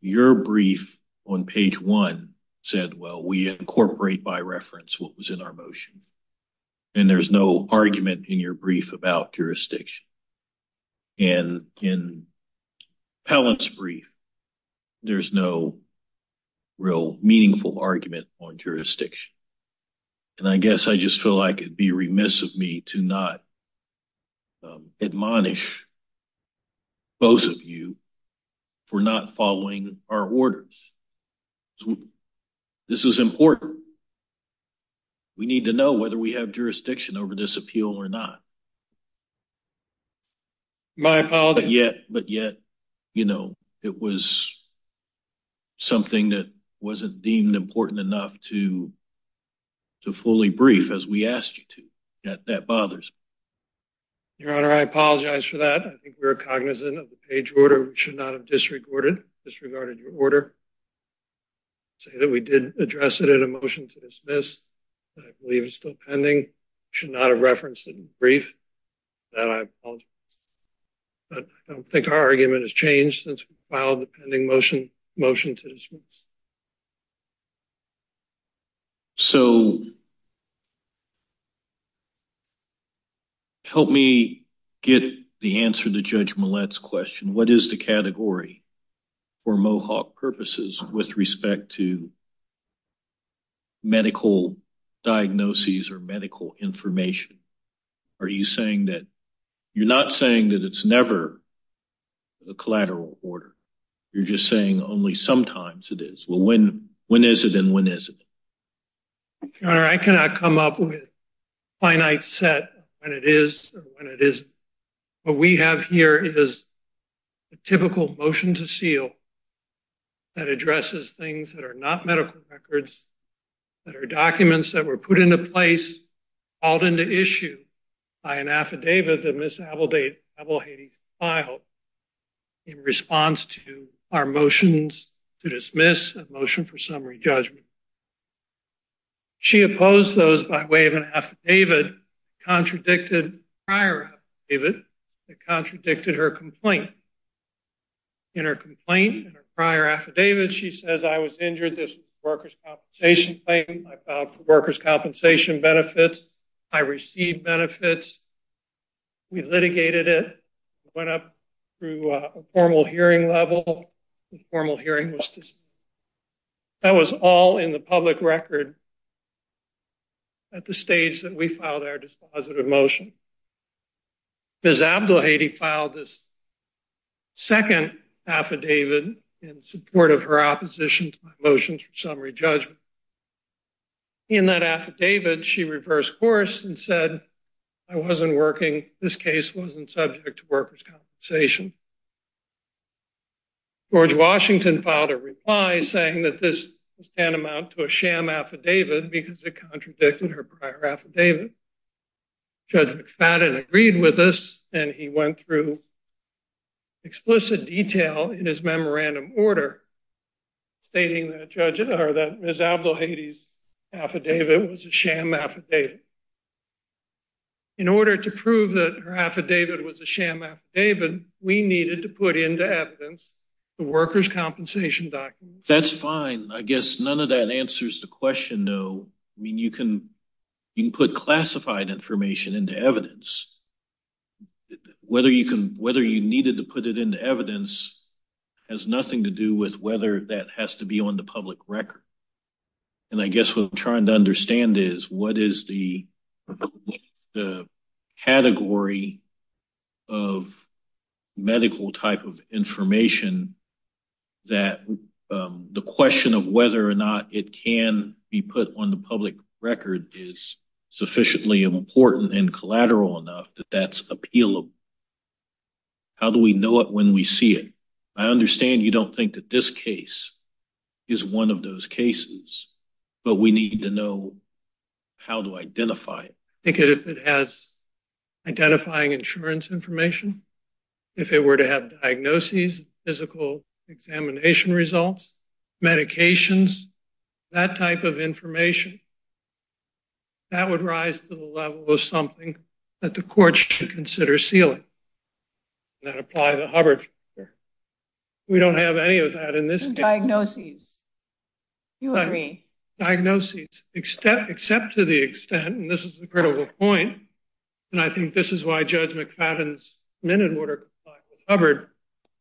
Your brief on page one said, well, we incorporate by reference what was in our motion, and there's no argument in your brief about jurisdiction. In Pallant's brief, there's no real meaningful argument on jurisdiction, and I guess I just feel like it'd be remiss of me to not admonish both of you for not following our orders. This is important. We need to know whether we have jurisdiction over this appeal or not. But yet, it was something that wasn't deemed important enough to fully brief as we asked you to. That bothers me. Your Honor, I apologize for that. I think we were cognizant of the page order. We should not have disregarded your order. I say that we did address it in a motion to dismiss, but I believe it's still pending. We should not have referenced it in the brief. That, I apologize. But I don't think our argument has changed since we filed the pending motion to dismiss. So, help me get the answer to Judge Millett's question. What is the category for Mohawk purposes with respect to medical diagnoses or medical information? Are you saying that you're not saying that it's never a collateral order? You're just saying only sometimes it is. Well, when is it and when isn't it? Your Honor, I cannot come up with a finite set when it is or when it isn't. What we have here is a typical motion to seal that addresses things that are not medical records, that are documents that were put into place, called into issue by an affidavit that Ms. Abelhady filed in response to our motions to dismiss, a motion for summary judgment. She opposed those by way of an affidavit, contradicted prior affidavit, that contradicted her complaint. In her complaint, in her prior affidavit, she says, I was injured. This was a workers' compensation claim. I filed for workers' compensation benefits. I received benefits. We litigated it. It went up through a formal hearing level. The formal hearing was dismissed. That was all in the public record at the stage that we filed our dispositive motion. Ms. Abelhady filed this second affidavit in support of her opposition to my motions for summary judgment. In that affidavit, she reversed course and said, I wasn't working. This case wasn't subject to workers' compensation. George Washington filed a reply saying that this was tantamount to a sham affidavit because it contradicted her prior affidavit. Judge McFadden agreed with this, and he went through explicit detail in his memorandum order stating that Ms. Abelhady's affidavit was a sham affidavit. In order to prove that her affidavit was a sham affidavit, we needed to put into evidence the workers' compensation document. That's fine. I guess none of that answers the question, though. I mean, you can put classified information into evidence. Whether you needed to put it into evidence has nothing to do with whether that has to be on the public record. And I guess what I'm trying to understand is what is the category of medical type of information that the question of whether or not it can be put on the public record is sufficiently important and collateral enough that that's appealable. How do we know it when we see it? I understand you don't think that this is a case that we need to know how to identify it. I think if it has identifying insurance information, if it were to have diagnoses, physical examination results, medications, that type of information, that would rise to the level of something that the court should consider sealing and apply to Hubbard. We don't have any of that in this case. Diagnoses. You agree. Diagnoses, except to the extent, and this is the critical point, and I think this is why Judge McFadden's minute order applied with Hubbard,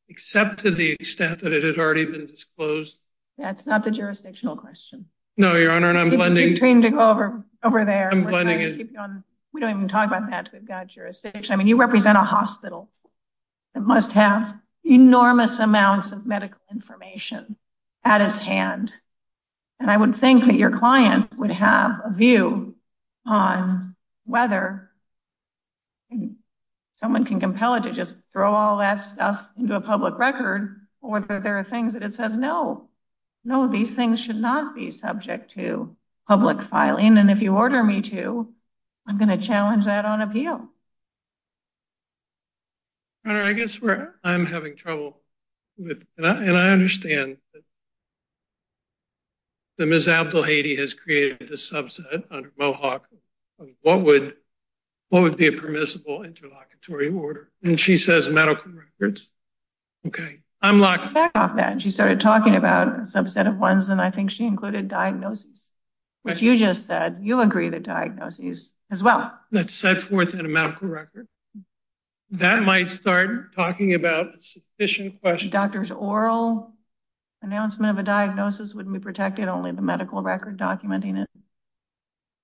except to the extent that it had already been disclosed. That's not the jurisdictional question. No, Your Honor, and I'm blending. You're trying to go over there. We don't even talk about that. We've got jurisdiction. I mean, you represent a hospital that must have enormous amounts of medical information at its hand, and I would think that your client would have a view on whether someone can compel it to just throw all that stuff into a public record or whether there are things that it says, no, no, these things should not be subject to public filing, and if you order me to, I'm going to challenge that on appeal. Your Honor, I guess I'm having trouble, and I understand that Ms. Abdel-Hady has created a subset under Mohawk of what would be a permissible interlocutory order, and she says medical records. Okay. I'm locking back off that. She started talking about a subset of ones, and I think she included diagnosis, which you just said you agree the diagnosis as well. That's set forth in a medical record. That might start talking about a sufficient question. Doctor's oral announcement of a diagnosis wouldn't be protected, only the medical record documenting it.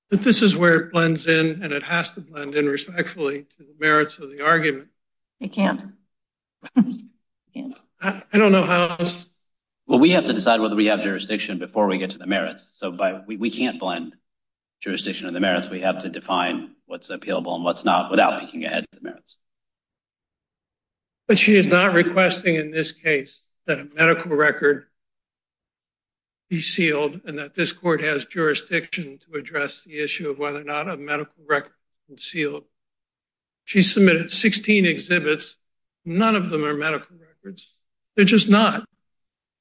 But this is where it blends in, and it has to blend in respectfully to the merits of the argument. It can't. I don't know how else. Well, we have to decide whether we have jurisdiction before we get to the merits, so we can't blend jurisdiction and the merits. We have to define what's appealable and what's not without peeking ahead to the merits. But she is not requesting in this case that a medical record be sealed and that this court has jurisdiction to address the issue of whether or not a medical record is concealed. She submitted 16 exhibits. None of them are medical records. They're just not.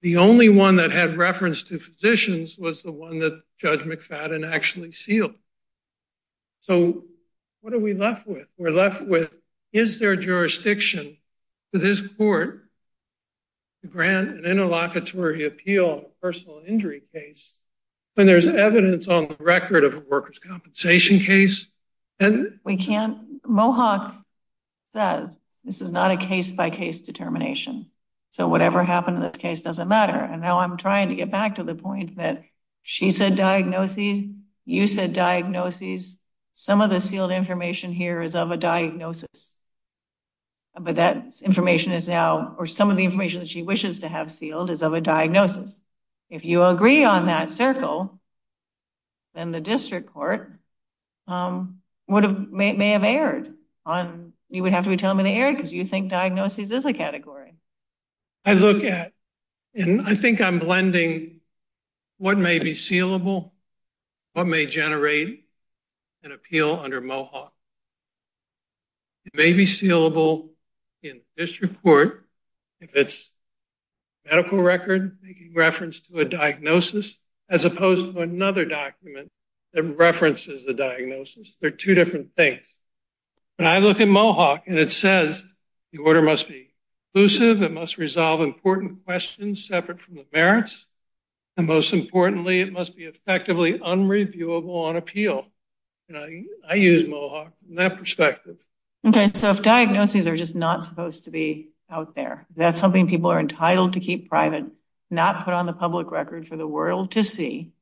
The only one that had reference to physicians was the one that Judge McFadden actually sealed. So what are we left with? We're left with, is there jurisdiction to this court to grant an interlocutory appeal, a personal injury case, when there's evidence on the record of a workers' compensation case? We can't. Mohawk says this is not a case-by-case determination. So whatever happened in this case doesn't matter. And now I'm trying to get back to the point that she said diagnoses, you said diagnoses. Some of the sealed information here is of a diagnosis. But that information is now, or some of the information that she wishes to have sealed is of a diagnosis. If you agree on that circle, then the district court may have erred. You would have to tell me they erred because you think diagnoses is a category. I look at, and I think I'm blending what may be sealable, what may generate an appeal under Mohawk. It may be sealable in this report if it's a medical record making reference to a diagnosis as opposed to another document that references the diagnosis. They're two different things. When I look at Mohawk and it says the order must be inclusive, it must resolve important questions separate from the merits, and most importantly, it must be effectively unreviewable on appeal. I use Mohawk in that perspective. Okay, so if diagnoses are just not supposed to be out there, that's something people are entitled to keep private, not put on the public record for the world to see,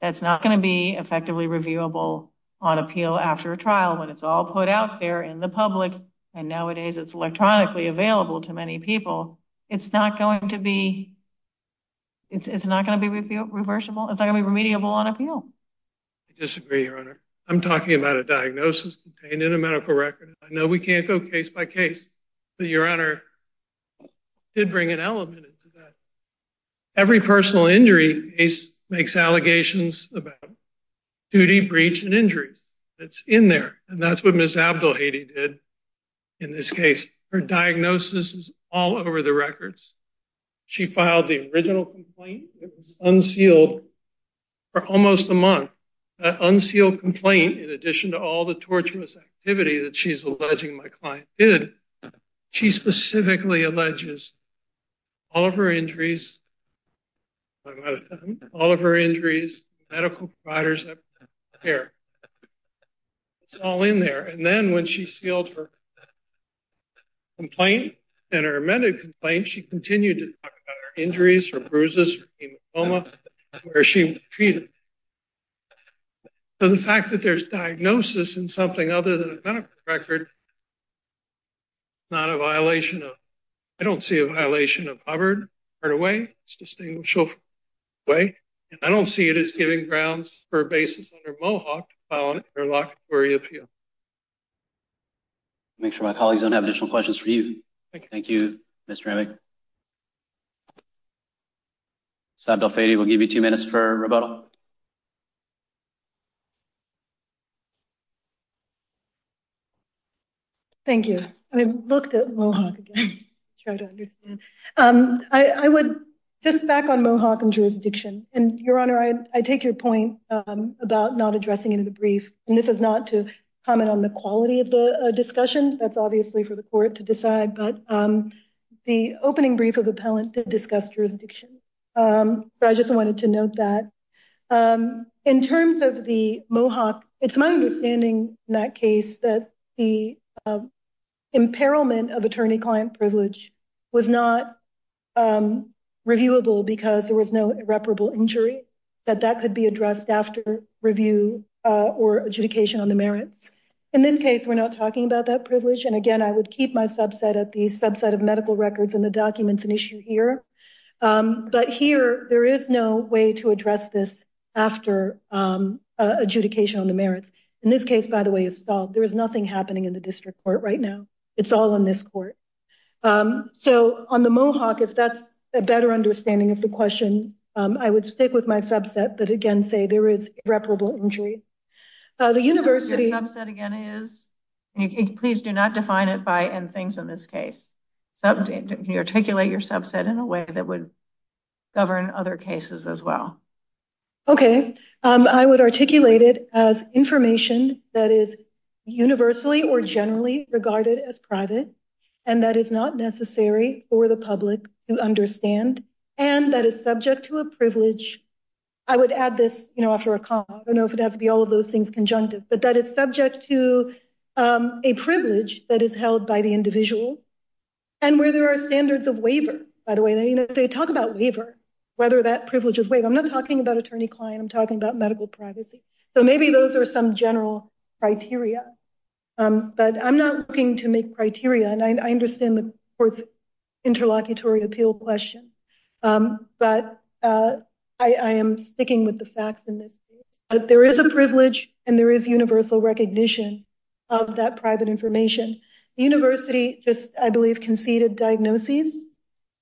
that's not going to be effectively reviewable on appeal after a trial when it's all put out there in the public, and nowadays it's electronically available to many people. It's not going to be reversible. It's not going to be remediable on appeal. I disagree, Your Honor. I'm talking about a diagnosis contained in a medical record. I know we can't go case by case, but Your Honor did bring an element into that. Every personal injury case makes allegations about duty, breach, and injury that's in there, and that's what Ms. Abdulhadi did in this case. Her diagnosis is all over the records. She filed the original complaint. It was unsealed for almost a month. That unsealed complaint, in addition to all the torturous activity that she's alleging my client did, she specifically alleges all of her injuries, all of her injuries, medical providers, and care. It's all in there, and then when she sealed her complaint and her amended complaint, she continued to talk about her injuries, her bruises, her hematoma, where she was treated. The fact that there's diagnosis in something other than a distinguished way, I don't see it as giving grounds for a basis under Mohawk to file an interlocutory appeal. I'll make sure my colleagues don't have additional questions for you. Thank you, Mr. Remick. Ms. Abdulhadi, we'll give you two minutes for rebuttal. Thank you. I looked at Mohawk again to try to understand. Just back on Mohawk and jurisdiction, and Your Honor, I take your point about not addressing it in the brief, and this is not to comment on the quality of the discussion. That's obviously for the court to decide, but the opening brief of the appellant did discuss jurisdiction, so I just wanted to note that. In terms of the Mohawk, it's my understanding in that case that the imperilment of attorney-client privilege was not reviewable because there was no irreparable injury, that that could be addressed after review or adjudication on the merits. In this case, we're not talking about that privilege, and again, I would keep my subset of medical records and the documents an issue here, but here, there is no way to address this after adjudication on the merits. In this case, by the way, it's solved. There is nothing happening in the district court right now. It's all in this court. So, on the Mohawk, if that's a better understanding of the question, I would stick with my subset, but again, say there is irreparable injury. The university- Please do not define it by and things in this case. Can you articulate your subset in a way that would govern other cases as well? Okay. I would articulate it as information that is universally or generally regarded as private and that is not necessary for the public to understand and that is subject to a privilege. I would add this after a comment. I don't know if it has to conjunctive, but that is subject to a privilege that is held by the individual and where there are standards of waiver. By the way, they talk about waiver, whether that privilege is waived. I'm not talking about attorney-client. I'm talking about medical privacy. So, maybe those are some general criteria, but I'm not looking to make criteria, and I understand the court's and there is universal recognition of that private information. The university just, I believe, conceded diagnoses.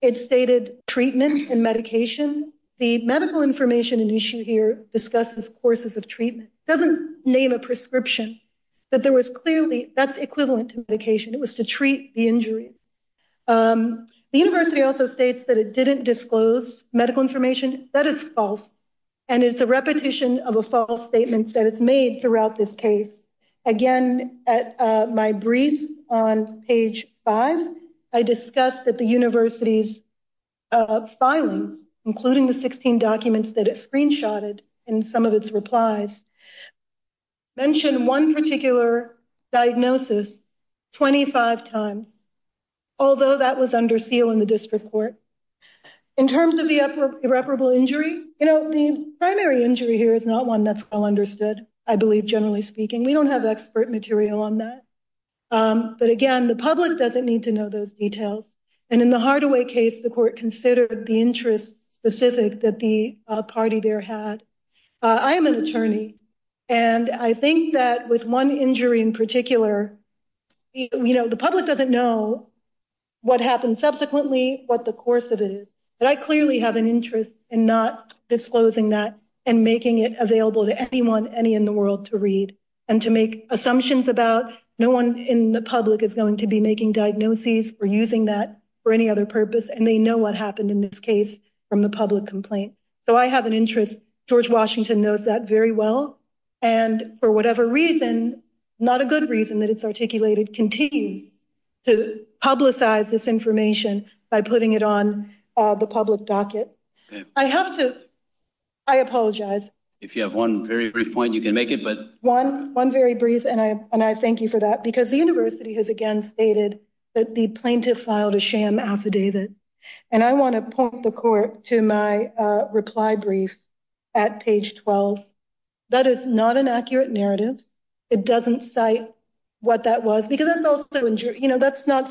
It stated treatment and medication. The medical information and issue here discusses courses of treatment. It doesn't name a prescription, but there was clearly, that's equivalent to medication. It was to treat the injury. The university also states that it didn't disclose medical information. That is false, and it's a repetition of a false statement that it's made throughout this case. Again, at my brief on page five, I discussed that the university's filings, including the 16 documents that it screenshotted and some of its replies, mentioned one particular diagnosis 25 times, although that was under seal in the district court. In terms of the irreparable injury, you know, the primary injury here is not one that's well understood, I believe, generally speaking. We don't have expert material on that, but again, the public doesn't need to know those details, and in the Hardaway case, the court considered the interest specific that the party there had. I am an attorney, and I think that with one injury in particular, you know, the public doesn't know what happened subsequently, what the course of it is, but I clearly have an interest in not disclosing that and making it available to anyone, any in the world, to read and to make assumptions about no one in the public is going to be making diagnoses or using that for any other purpose, and they know what happened in this case from the public complaint. So I have an interest. George Washington knows that very well, and for whatever reason, not a good reason that it's articulated, continues to publicize this information by putting it on the public docket. I have to, I apologize. If you have one very brief point, you can make it, but one very brief, and I thank you for that, because the university has again stated that the plaintiff filed a sham affidavit, and I want to point the court to my reply brief at page 12. That is not an accurate narrative. It doesn't cite what that was, because that's also, you know, that's not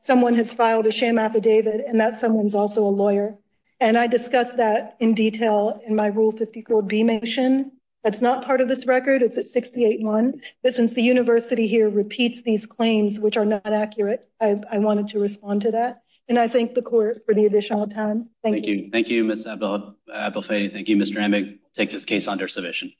someone has filed a sham affidavit, and that someone's also a lawyer, and I discussed that in detail in my Rule 54B motion. That's not part of this record. It's at 68-1, but since the university here repeats these claims, which are not accurate, I wanted to respond to that, and I thank the court for the additional time. Thank you. Thank you, Ms. Abelfay. Thank you, Mr. Hamig. Take this case under submission.